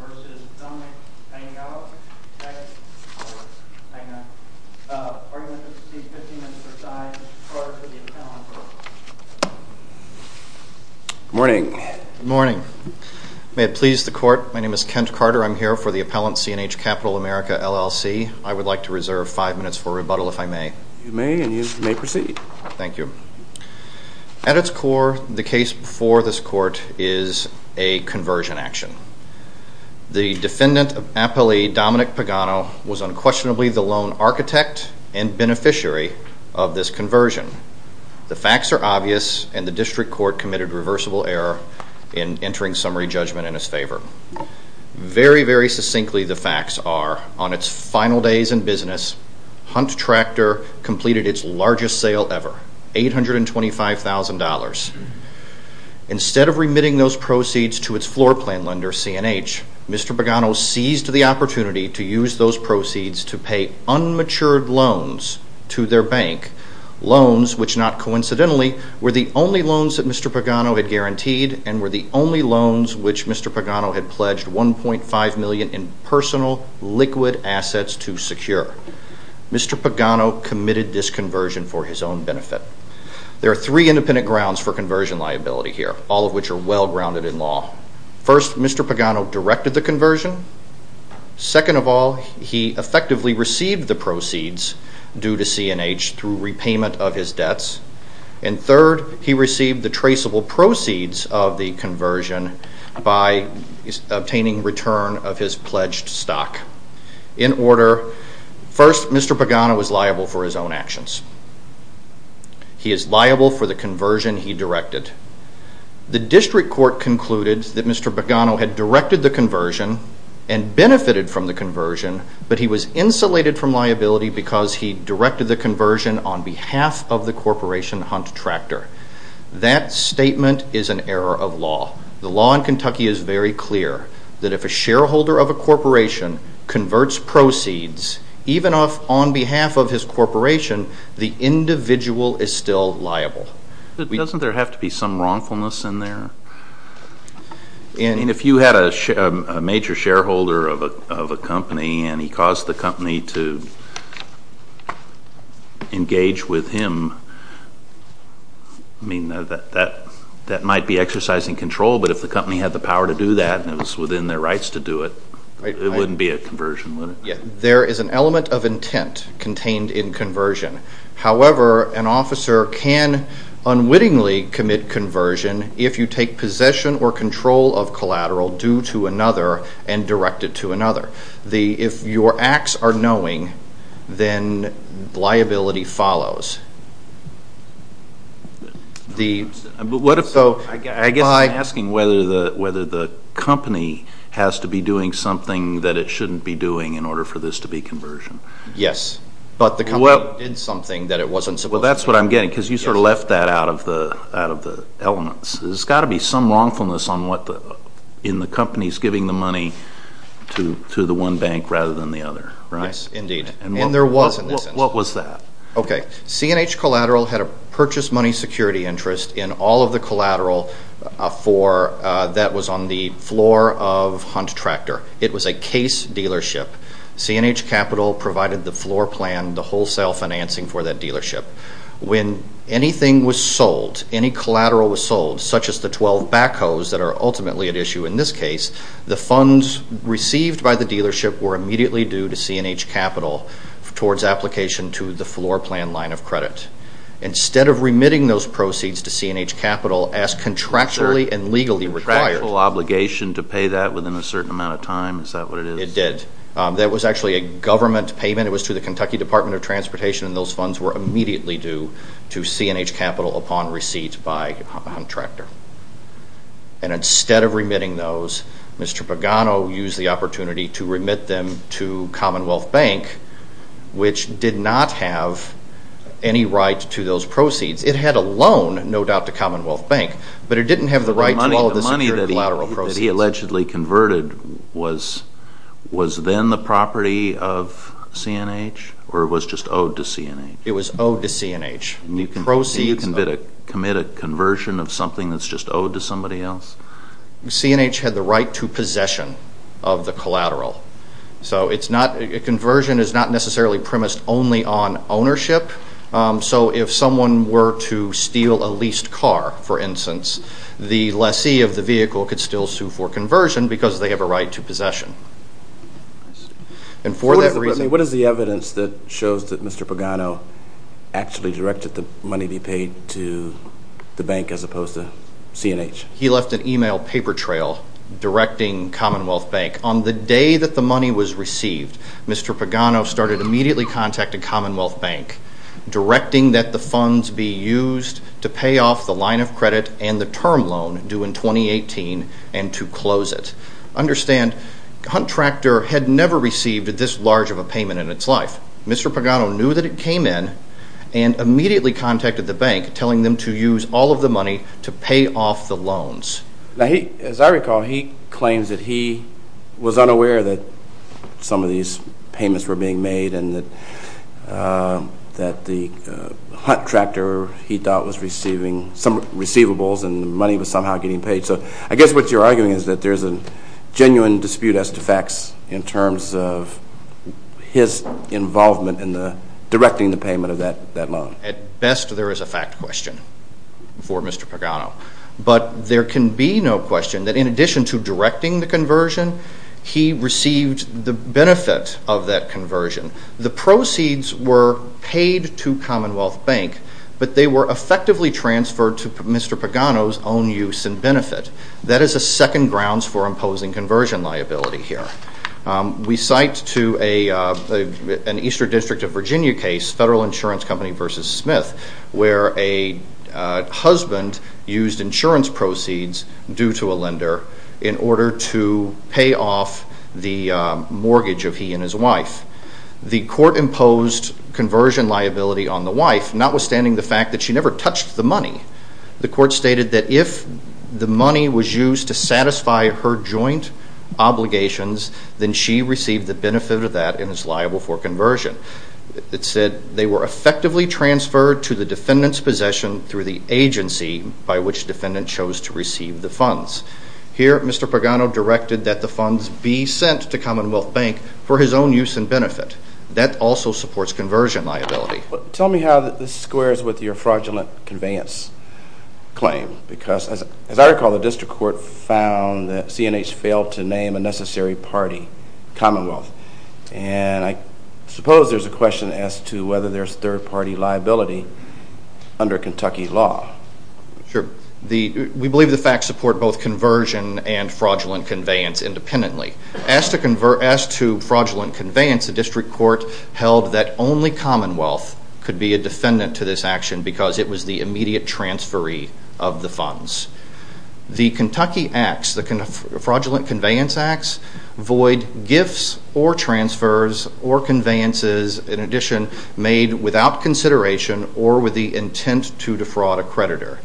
vs. Dominick Pagano. Arguments to seek 15 minutes per side in support of the appellant. Good morning. Good morning. May it please the court, my name is Kent Carter. I'm here for the appellant, CNH Capital America LLC. I would like to reserve 5 minutes for rebuttal if I may. You may, and you may proceed. Thank you. At its core, the case before this court is a conversion action. The defendant of appellee Dominick Pagano was unquestionably the lone architect and beneficiary of this conversion. The facts are obvious and the district court committed reversible error in entering summary judgment in his favor. Very, very succinctly the facts are, on its final days in business, Hunt Tractor completed its largest sale ever, $825,000. Instead of remitting those proceeds to its floor plan lender, CNH, Mr. Pagano seized the opportunity to use those proceeds to pay unmatured loans to their bank. Loans which not coincidentally were the only loans that Mr. Pagano had guaranteed and were the personal liquid assets to secure. Mr. Pagano committed this conversion for his own benefit. There are three independent grounds for conversion liability here, all of which are well grounded in law. First, Mr. Pagano directed the conversion. Second of all, he effectively received the proceeds due to CNH through repayment of his debts. And third, he received the traceable proceeds of the conversion by obtaining return of his pledged stock. In order, first Mr. Pagano was liable for his own actions. He is liable for the conversion he directed. The district court concluded that Mr. Pagano had directed the conversion and benefited from the conversion, but he was insulated from liability because he directed the conversion on behalf of the corporation Hunt Tractor. That statement is an error of law. The law in Kentucky is very clear that if a shareholder of a corporation converts proceeds, even on behalf of his corporation, the individual is still liable. But doesn't there have to be some wrongfulness in there? I mean, if you had a major shareholder of a company and he caused the company to engage with him, I mean, that might be exercising control, but if the company had the power to do that and it was within their rights to do it, it wouldn't be a conversion, would it? There is an element of intent contained in conversion. However, an officer can unwittingly commit conversion if you take possession or control of collateral due to another and directed to another. If your acts are knowing, then liability follows. I guess I'm asking whether the company has to be doing something that it shouldn't be doing in order for this to be conversion. Yes, but the company did something that it shouldn't be doing. There's got to be some wrongfulness in the company's giving the money to the one bank rather than the other, right? Yes, indeed. And there was in this instance. What was that? Okay. C&H Collateral had a purchase money security interest in all of the collateral that was on the floor of Hunt Tractor. It was a case dealership. C&H Capital provided the floor plan, the wholesale financing for that dealership. When anything was sold, any collateral was sold, such as the 12 backhoes that are ultimately at issue in this case, the funds received by the dealership were immediately due to C&H Capital towards application to the floor plan line of credit. Instead of remitting those proceeds to C&H Capital as contractually and legally required. Was there a contractual obligation to pay that within a certain amount of time? Is that what it is? It did. That was actually a government payment. It was to the Kentucky Department of Transportation and those funds were immediately due to C&H Capital upon receipt by Hunt Tractor. And instead of remitting those, Mr. Pagano used the opportunity to remit them to Commonwealth Bank, which did not have any right to those proceeds. It had a loan, no doubt, to Commonwealth Bank, but it didn't have the right to all of this collateral proceeds. The money that he allegedly converted was then the property of C&H or it was just owed to C&H? It was owed to C&H. And you can commit a conversion of something that's just owed to somebody else? C&H had the right to possession of the collateral. Conversion is not necessarily premised only on ownership. So if someone were to steal a leased car, for instance, the lessee of the vehicle could still sue for conversion because they have a right to possession. And for that reason... What is the evidence that shows that Mr. Pagano actually directed the money be paid to the bank as opposed to C&H? He left an email paper trail directing Commonwealth Bank. On the day that the money was received, Mr. Pagano started immediately contacting Commonwealth Bank, directing that the funds be used to pay off the line of credit and the term loan due in 2018 and to close it. Understand, Hunt Tractor had never received this large of a payment in its life. Mr. Pagano knew that it came in and immediately contacted the bank telling them to use all of the money to pay off the loans. As I recall, he claims that he was unaware that some of these payments were being made and that the Hunt Tractor, he thought, was receiving some receivables and the money was somehow getting paid. So I guess what you're arguing is that there's a genuine dispute as to facts in terms of his involvement in the directing the payment of that loan. At best, there is a fact question for Mr. Pagano. But there can be no question that in addition to directing the conversion, he received the benefit of that conversion. The proceeds were paid to Commonwealth Bank, but they were effectively transferred to Mr. Pagano's own use and benefit. That is a second grounds for imposing conversion liability here. We cite to an Eastern District of Virginia case, Federal Insurance Company v. Smith, where a husband used insurance proceeds due to a lender in order to pay off the mortgage of he and his wife. The court imposed conversion liability on the wife, notwithstanding the fact that she never touched the money. The court stated that if the money was used to satisfy her joint obligations, then she received the benefit of that and is liable for conversion. It said they were effectively transferred to the defendant's possession through the agency by which the defendant chose to receive the funds. Here, Mr. Pagano directed that the funds be sent to Commonwealth Bank for his own use and benefit. That also supports conversion liability. Tell me how this squares with your fraudulent conveyance claim. Because as I recall, the question is whether there is third party liability under Kentucky law. We believe the facts support both conversion and fraudulent conveyance independently. As to fraudulent conveyance, the district court held that only Commonwealth could be a defendant to this action because it was the immediate transferee of the funds. The Kentucky fraudulent conveyance acts void gifts or transfers or conveyances, in addition, made without consideration or with the intent to defraud a creditor.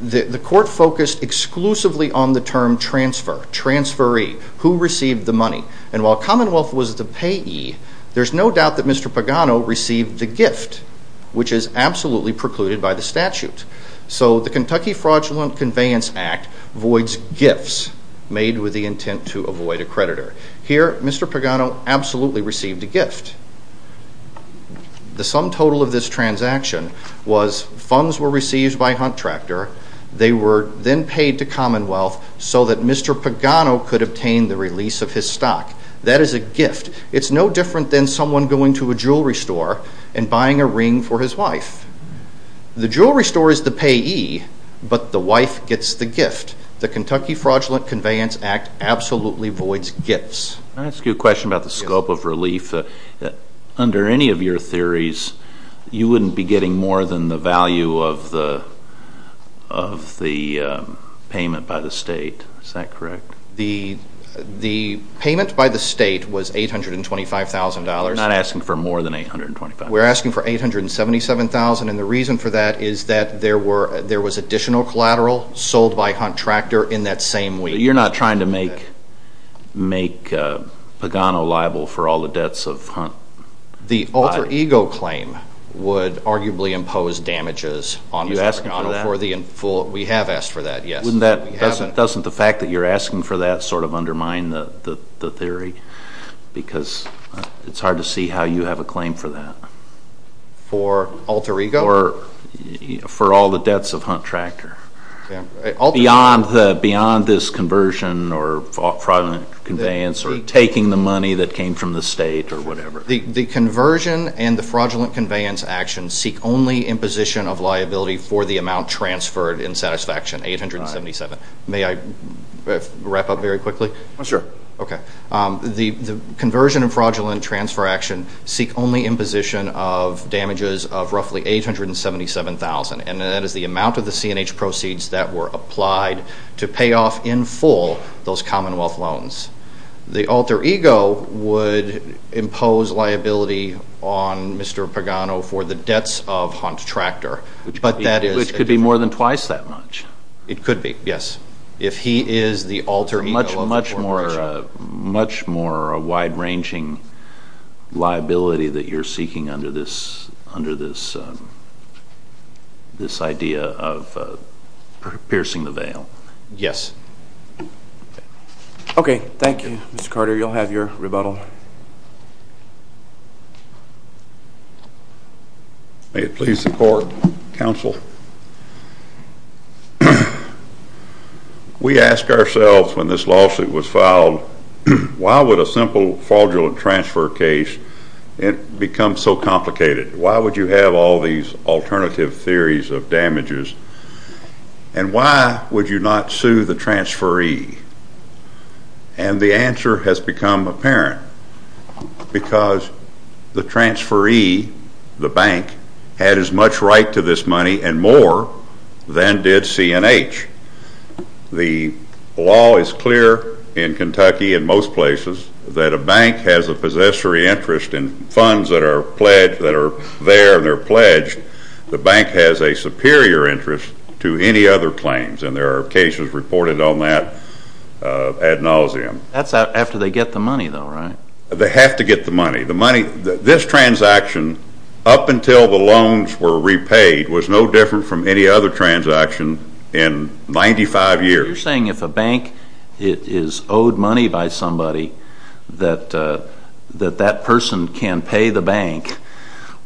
The court focused exclusively on the term transfer, transferee, who received the money. And while Commonwealth was the payee, there is no doubt that Mr. Pagano received the gift, which is absolutely precluded by the statute. So the Kentucky fraudulent conveyance act voids gifts made with the intent to avoid a creditor. Here, Mr. Pagano absolutely received a gift. The sum total of this transaction was funds were received by a contractor. They were then paid to Commonwealth so that Mr. Pagano could obtain the release of his stock. That is a gift. It's no different than someone going to a jewelry store and buying a ring for his wife. The jewelry store is the payee, but the wife gets the gift. The Kentucky fraudulent conveyance act absolutely voids gifts. Can I ask you a question about the scope of relief? Under any of your theories, you wouldn't be getting more than the value of the payment by the state, is that correct? The payment by the state was $825,000. Not asking for more than $825,000. We're asking for $877,000, and the reason for that is that there was additional collateral sold by a contractor in that same week. You're not trying to make Pagano liable for all the debts of Hunt? The alter ego claim would arguably impose damages on Mr. Pagano for the in full. We have asked for that, yes. Doesn't the fact that you're asking for that sort of undermine the theory? Because it's for alter ego? For all the debts of Hunt Tractor. Beyond this conversion or fraudulent conveyance, taking the money that came from the state or whatever. The conversion and the fraudulent conveyance actions seek only imposition of liability for the amount transferred in satisfaction, $877,000. May I wrap up very quickly? Sure. The conversion and fraudulent transfer action seek only imposition of damages of roughly $877,000, and that is the amount of the C&H proceeds that were applied to pay off in full those Commonwealth loans. The alter ego would impose liability on Mr. Pagano for the debts of Hunt Tractor. Which could be more than twice that much. It could be, yes. If he is the alter ego of the corporation. Much more wide-ranging liability that you're seeking under this idea of piercing the veil. Yes. Okay. Thank you, Mr. Carter. You'll have your rebuttal. May it please the court, counsel. We ask ourselves when this lawsuit was filed, why would a simple fraudulent transfer case become so complicated? Why would you have all these alternative theories of damages? And why would you not sue the transferee? And the answer has become apparent. Because the transferee, the bank, had as much right to this money and more than did C&H. The law is clear in Kentucky and most places that a bank has a possessory interest in funds that are pledged, that are there and they're pledged. The bank has a superior interest to any other claims. And there are cases reported on that ad nauseum. That's after they get the money though, right? They have to get the money. The money, this transaction, up until the loans were repaid, was no different from any other transaction in 95 years. You're saying if a bank is owed money by somebody, that that person can pay the bank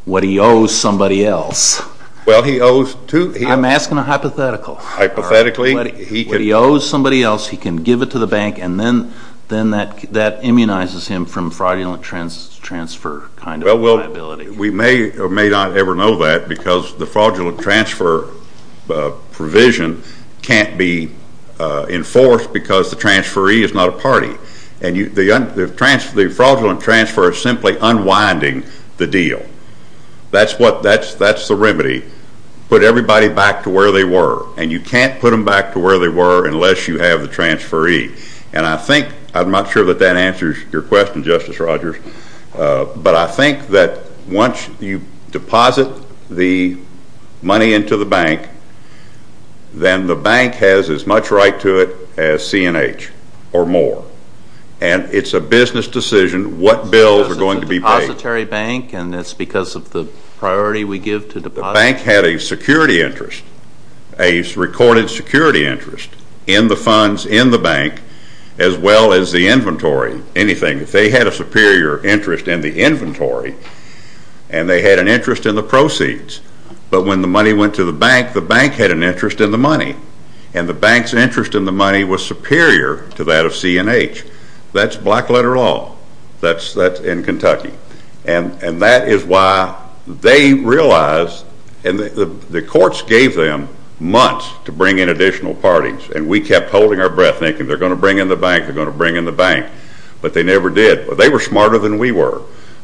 what he owes somebody else. Well, he owes two. I'm asking a hypothetical. Hypothetically, he could... What he owes somebody else, he can give it to the bank and then that immunizes him from fraudulent transfer kind of liability. We may or may not ever know that because the fraudulent transfer provision can't be enforced because the transferee is not a party. And the fraudulent transfer is simply unwinding the deal. That's the remedy. Put everybody back to where they were. And you can't put them back to where they were unless you have the transferee. And I think, I'm not sure that that answers your question, Justice Rogers, but I think that once you deposit the money into the bank, then the bank has as much right to it as C&H or more. And it's a business decision what bills are going to be paid. Because it's a depository bank and it's because of the priority we give to depositors. The bank had a security interest, a recorded security interest, in the funds in the bank as well as the inventory, anything. They had a superior interest in the inventory and they had an interest in the proceeds. But when the money went to the bank, the bank had an interest in the money. And the bank's interest in the money was superior to that of C&H. That's black letter law. That's in Kentucky. And that is why they realized, and the courts gave them months to bring in additional parties. And we kept holding our breath thinking they're going to bring in the bank, they're going to bring in the bank. But they never did. They were smarter than we were.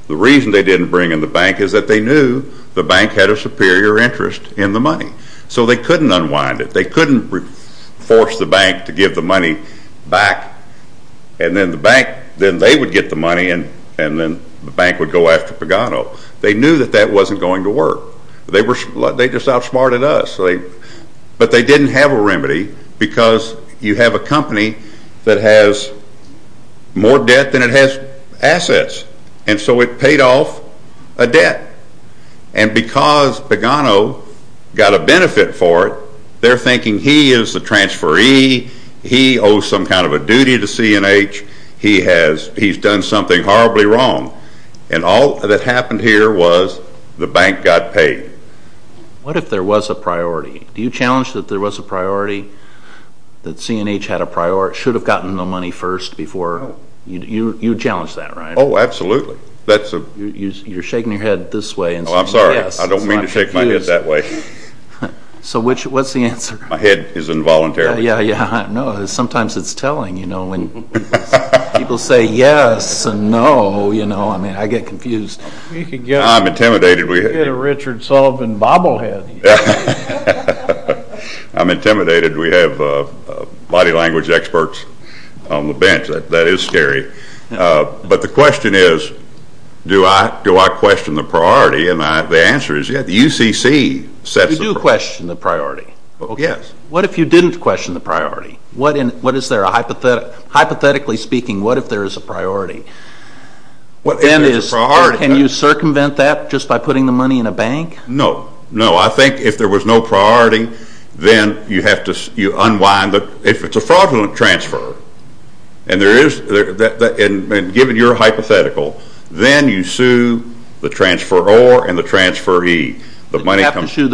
The reason they didn't bring in the bank is that they knew the bank had a superior interest in the money. So they couldn't unwind it. They couldn't force the bank to give the money back and then the bank, then they would get the money and then the bank would go after Pagano. They knew that that wasn't going to work. They were, they just outsmarted us. But they didn't have a remedy because you have a company that has more debt than it has assets. And so it paid off a debt. And because Pagano got a benefit for it, they're thinking he is the transferee, he owes some kind of a duty to C&H, he's done something horribly wrong. And all that happened here was the bank got paid. What if there was a priority? Do you challenge that there was a priority, that C&H had a priority, should have gotten the money first before, you challenge that, right? Oh, absolutely. That's a You're shaking your head this way Oh, I'm sorry. I don't mean to shake my head that way. So what's the answer? My head is involuntary. Yeah, yeah. I know. Sometimes it's telling, you know, when people say yes and no, you know, I mean, I get confused. I'm intimidated. You get a Richard Sullivan bobblehead. I'm intimidated. We have body language experts on the bench. That is scary. But the question is, do I question the priority? And the answer is, yeah, the UCC sets the priority. You do question the priority. Yes. What if you didn't question the priority? What is there, hypothetically speaking, what if there is a priority? What then is If there's a priority Would you present that just by putting the money in a bank? No. No. I think if there was no priority, then you have to, you unwind the, if it's a fraudulent transfer and there is, and given your hypothetical, then you sue the transferor and the transferee. The money comes You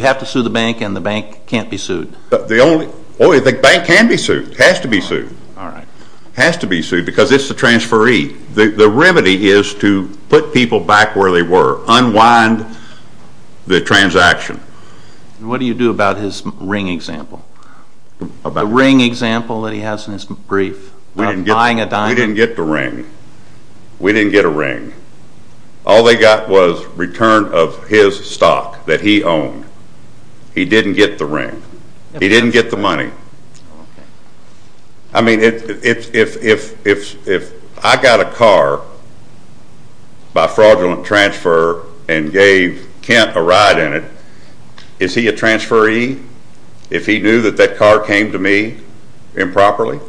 have to sue the bank and the bank can't be sued. The only, only the bank can be sued. It has to be sued. All right. It has to be sued because it's the transferee. The remedy is to put people back where they were. Unwind the transaction. What do you do about his ring example? About what? The ring example that he has in his brief. About buying a diamond? We didn't get the ring. We didn't get a ring. All they got was return of his stock that he owned. He didn't get the ring. He didn't get the money. I mean, if I got a car by fraudulent transfer and gave Kent a ride in it, is he a transferee if he knew that that car came to me improperly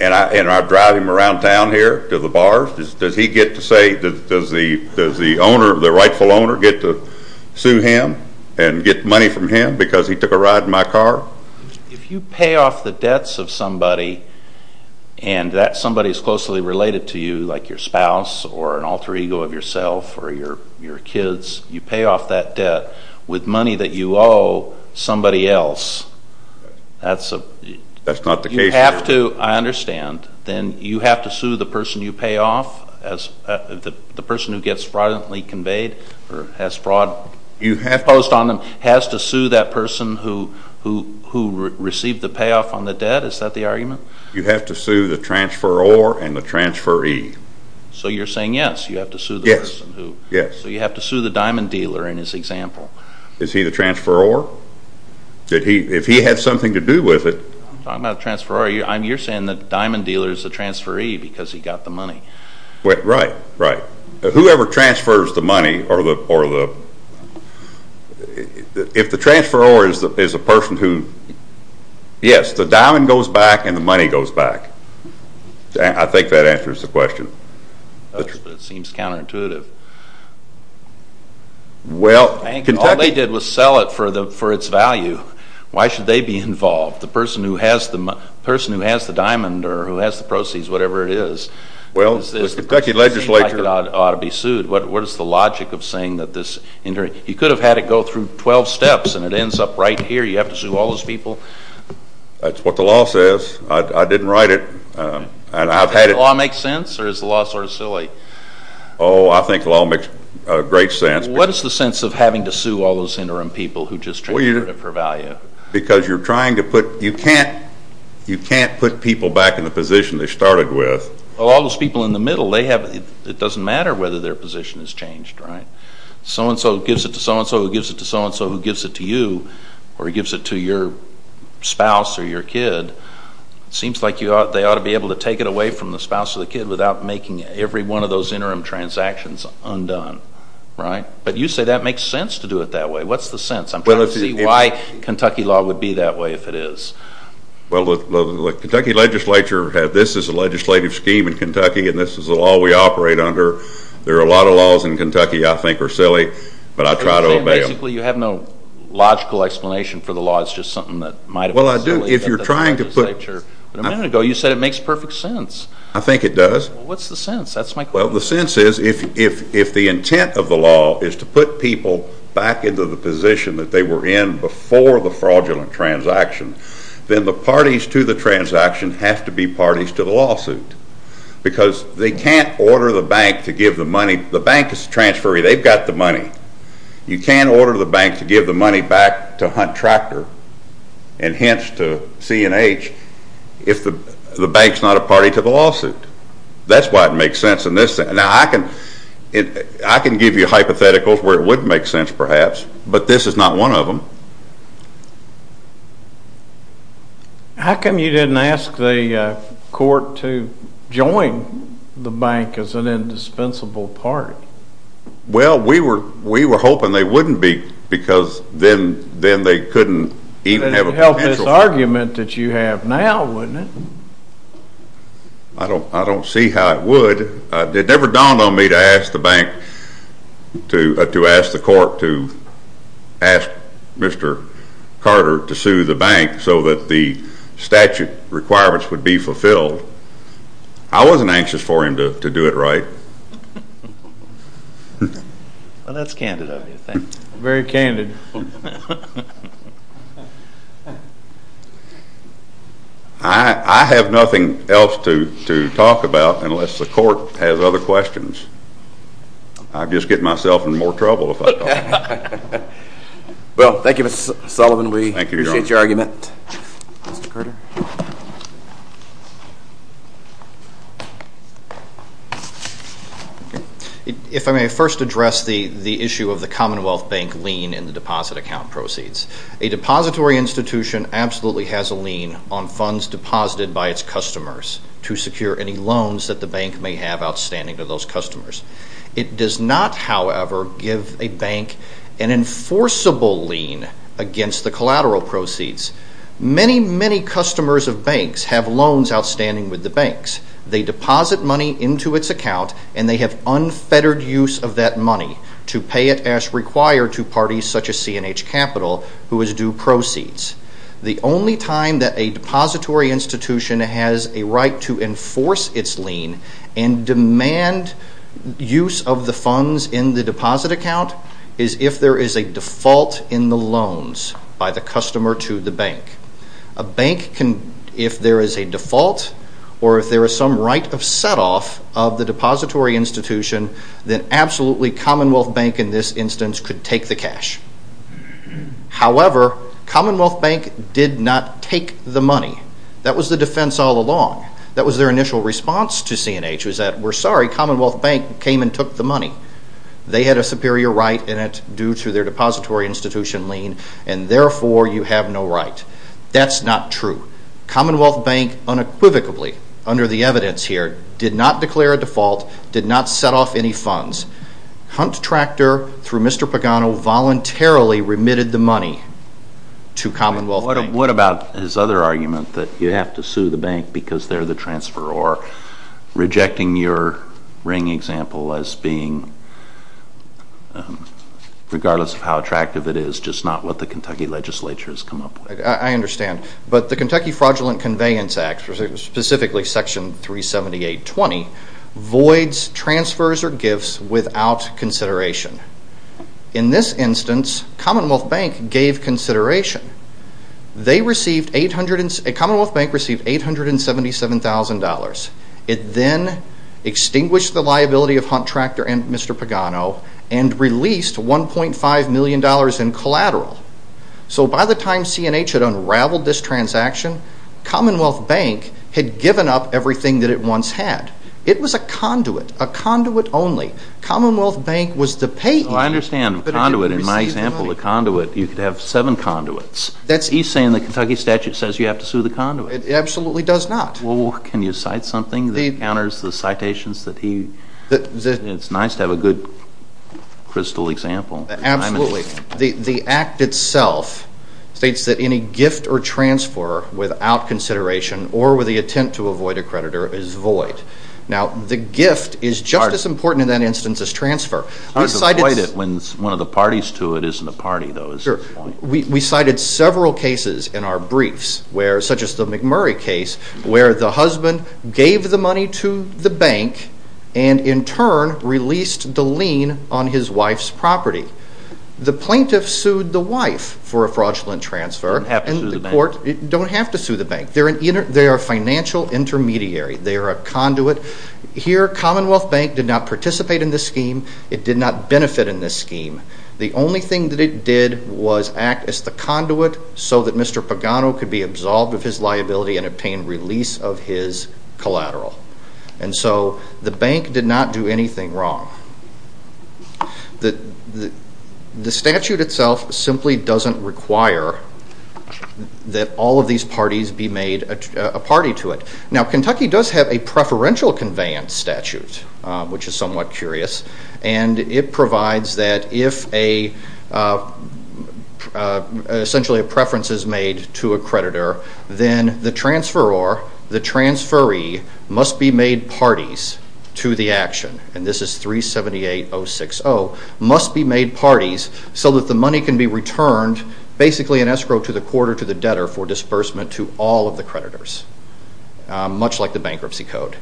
and I drive him around town here to the bars? Does he get to say, does the rightful owner get to sue him and get money from him because he took a ride in my car? If you pay off the debts of somebody and that somebody is closely related to you, like your spouse or an alter ego of yourself or your kids, you pay off that debt with money that you owe somebody else, that's a... That's not the case here. You have to, I understand, then you have to sue the person you pay off, the person who gets fraudulently conveyed or has fraud imposed on them, has to sue that person who received the payoff on the debt, is that the argument? You have to sue the transferor and the transferee. So you're saying, yes, you have to sue the person who... Yes. So you have to sue the diamond dealer in this example. Is he the transferor? If he had something to do with it... I'm talking about the transferor. You're saying the diamond dealer is the transferee because he got the money. Right. Right. Whoever transfers the money or the... If the transferor is a person who, yes, the diamond goes back and the money goes back, I think that answers the question. It does, but it seems counterintuitive. Well... I think all they did was sell it for its value. Why should they be involved? The person who has the diamond or who has the proceeds, whatever it is... Well, the Kentucky legislature... It seems like it ought to be sued. What is the logic of saying that this... You could have had it go through 12 steps and it ends up right here. You have to sue all those people. That's what the law says. I didn't write it. And I've had it... Does the law make sense or is the law sort of silly? Oh, I think the law makes great sense. What is the sense of having to sue all those interim people who just transferred it for value? Because you're trying to put... You can't put people back in the position they started with. Well, all those people in the middle, it doesn't matter whether their position has changed. So-and-so gives it to so-and-so who gives it to so-and-so who gives it to you or gives it to your spouse or your kid, it seems like they ought to be able to take it away from the spouse or the kid without making every one of those interim transactions undone. But you say that makes sense to do it that way. What's the sense? I'm trying to see why Kentucky law would be that way if it is. Well, the Kentucky legislature, this is a legislative scheme in Kentucky and this is the law we operate under. There are a lot of laws in Kentucky I think are silly, but I try to obey them. So you're saying basically you have no logical explanation for the law, it's just something that might have been silly? Well, I do. If you're trying to put... But a minute ago you said it makes perfect sense. I think it does. Well, what's the sense? That's my question. Well, the sense is if the intent of the law is to put people back into the position that they were in before the fraudulent transaction, then the parties to the transaction have to be parties to the lawsuit. Because they can't order the bank to give the money. The bank is transferring, they've got the money. You can't order the bank to give the money back to Hunt Tractor and hence to C&H if the bank's not a party to the lawsuit. That's why it makes sense in this sense. Now I can give you hypotheticals where it would make sense perhaps, but this is not one of them. How come you didn't ask the court to join the bank as an indispensable part? Well, we were hoping they wouldn't be because then they couldn't even have a potential... But it would help this argument that you have now, wouldn't it? I don't see how it would. It never dawned on me to ask the court to ask Mr. Carter to sue the bank so that the statute requirements would be fulfilled. I wasn't anxious for him to do it right. Well, that's candid of you. Very candid. I have nothing else to talk about unless the court has other questions. I'd just get myself in more trouble if I talked. Well, thank you Mr. Sullivan. We appreciate your argument. Mr. Carter? If I may first address the issue of the Commonwealth Bank lien in the deposit account proceeds. A depository institution absolutely has a lien on funds deposited by its customers to secure any loans that the bank may have outstanding to those customers. It does not, however, give a bank an enforceable lien against the collateral proceeds. Many, many customers of banks have loans outstanding with the banks. They deposit money into its account and they have unfettered use of that money to pay it as required to parties such as C&H Capital who is due proceeds. The only time that a depository institution has a right to enforce its lien and demand use of the funds in the deposit account is if there is a default in the loans by the customer to the bank. A bank can, if there is a default or if there is some right of set off of the depository institution, then absolutely Commonwealth Bank in this instance could take the cash. However, Commonwealth Bank did not take the money. That was the defense all along. That was their initial response to C&H was that we're sorry, Commonwealth Bank came and took the money. They had a superior right in it due to their depository institution lien and therefore you have no right. That's not true. Commonwealth Bank unequivocally under the evidence here did not declare a default, did not set off any funds. Hunt Tractor through Mr. Pagano voluntarily remitted the money to Commonwealth Bank. What about his other argument that you have to sue the bank because they're the transferor? Rejecting your ring example as being, regardless of how attractive it is, just not what the Kentucky legislature has come up with. I understand. But the Kentucky Fraudulent Conveyance Act, specifically Section 378.20, voids transfers or gifts without consideration. In this instance, Commonwealth Bank gave consideration. Commonwealth Bank received $877,000. It then extinguished the liability of Hunt Tractor and Mr. Pagano and released $1.5 million in collateral. So by the time C&H had unraveled this transaction, Commonwealth Bank had given up everything that it once had. It was a conduit, a conduit only. Commonwealth Bank was the payee. I understand. Conduit. In my example, the conduit, you could have seven conduits. He's saying the Kentucky statute says you have to sue the conduit. It absolutely does not. Can you cite something that counters the citations that he... It's nice to have a good crystal example. Absolutely. The act itself states that any gift or transfer without consideration or with the intent to Now, the gift is just as important in that instance as transfer. It's hard to avoid it when one of the parties to it isn't a party, though, is the point. We cited several cases in our briefs, such as the McMurray case, where the husband gave the money to the bank and in turn released the lien on his wife's property. The plaintiff sued the wife for a fraudulent transfer. You don't have to sue the bank. And the court... You don't have to sue the bank. They are a financial intermediary. They are a conduit. Here Commonwealth Bank did not participate in this scheme. It did not benefit in this scheme. The only thing that it did was act as the conduit so that Mr. Pagano could be absolved of his liability and obtain release of his collateral. And so the bank did not do anything wrong. The statute itself simply doesn't require that all of these parties be made a party to it. Now, Kentucky does have a preferential conveyance statute, which is somewhat curious, and it provides that if essentially a preference is made to a creditor, then the transferor, the transferee, must be made parties to the action, and this is 378060, must be made parties so that the money can be returned, basically an escrow to the court or to the debtor for much like the bankruptcy code.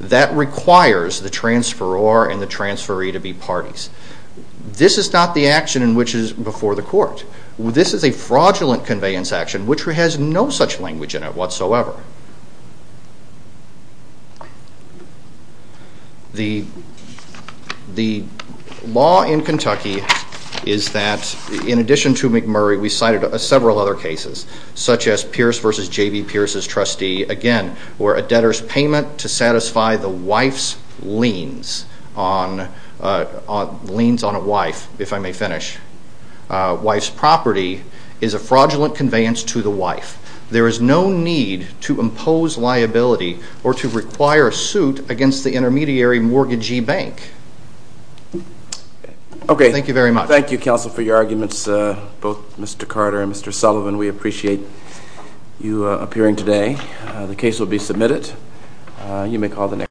That requires the transferor and the transferee to be parties. This is not the action in which is before the court. This is a fraudulent conveyance action, which has no such language in it whatsoever. The law in Kentucky is that, in addition to McMurray, we cited several other cases, such as Pierce v. J.B. Pierce's trustee, again, where a debtor's payment to satisfy the wife's liens on a wife, if I may finish, wife's property, is a fraudulent conveyance to the wife. There is no need to impose liability or to require a suit against the intermediary mortgagee bank. Thank you very much. Thank you, counsel, for your arguments, both Mr. Carter and Mr. Sullivan. We appreciate you appearing today. The case will be submitted. You may call the next.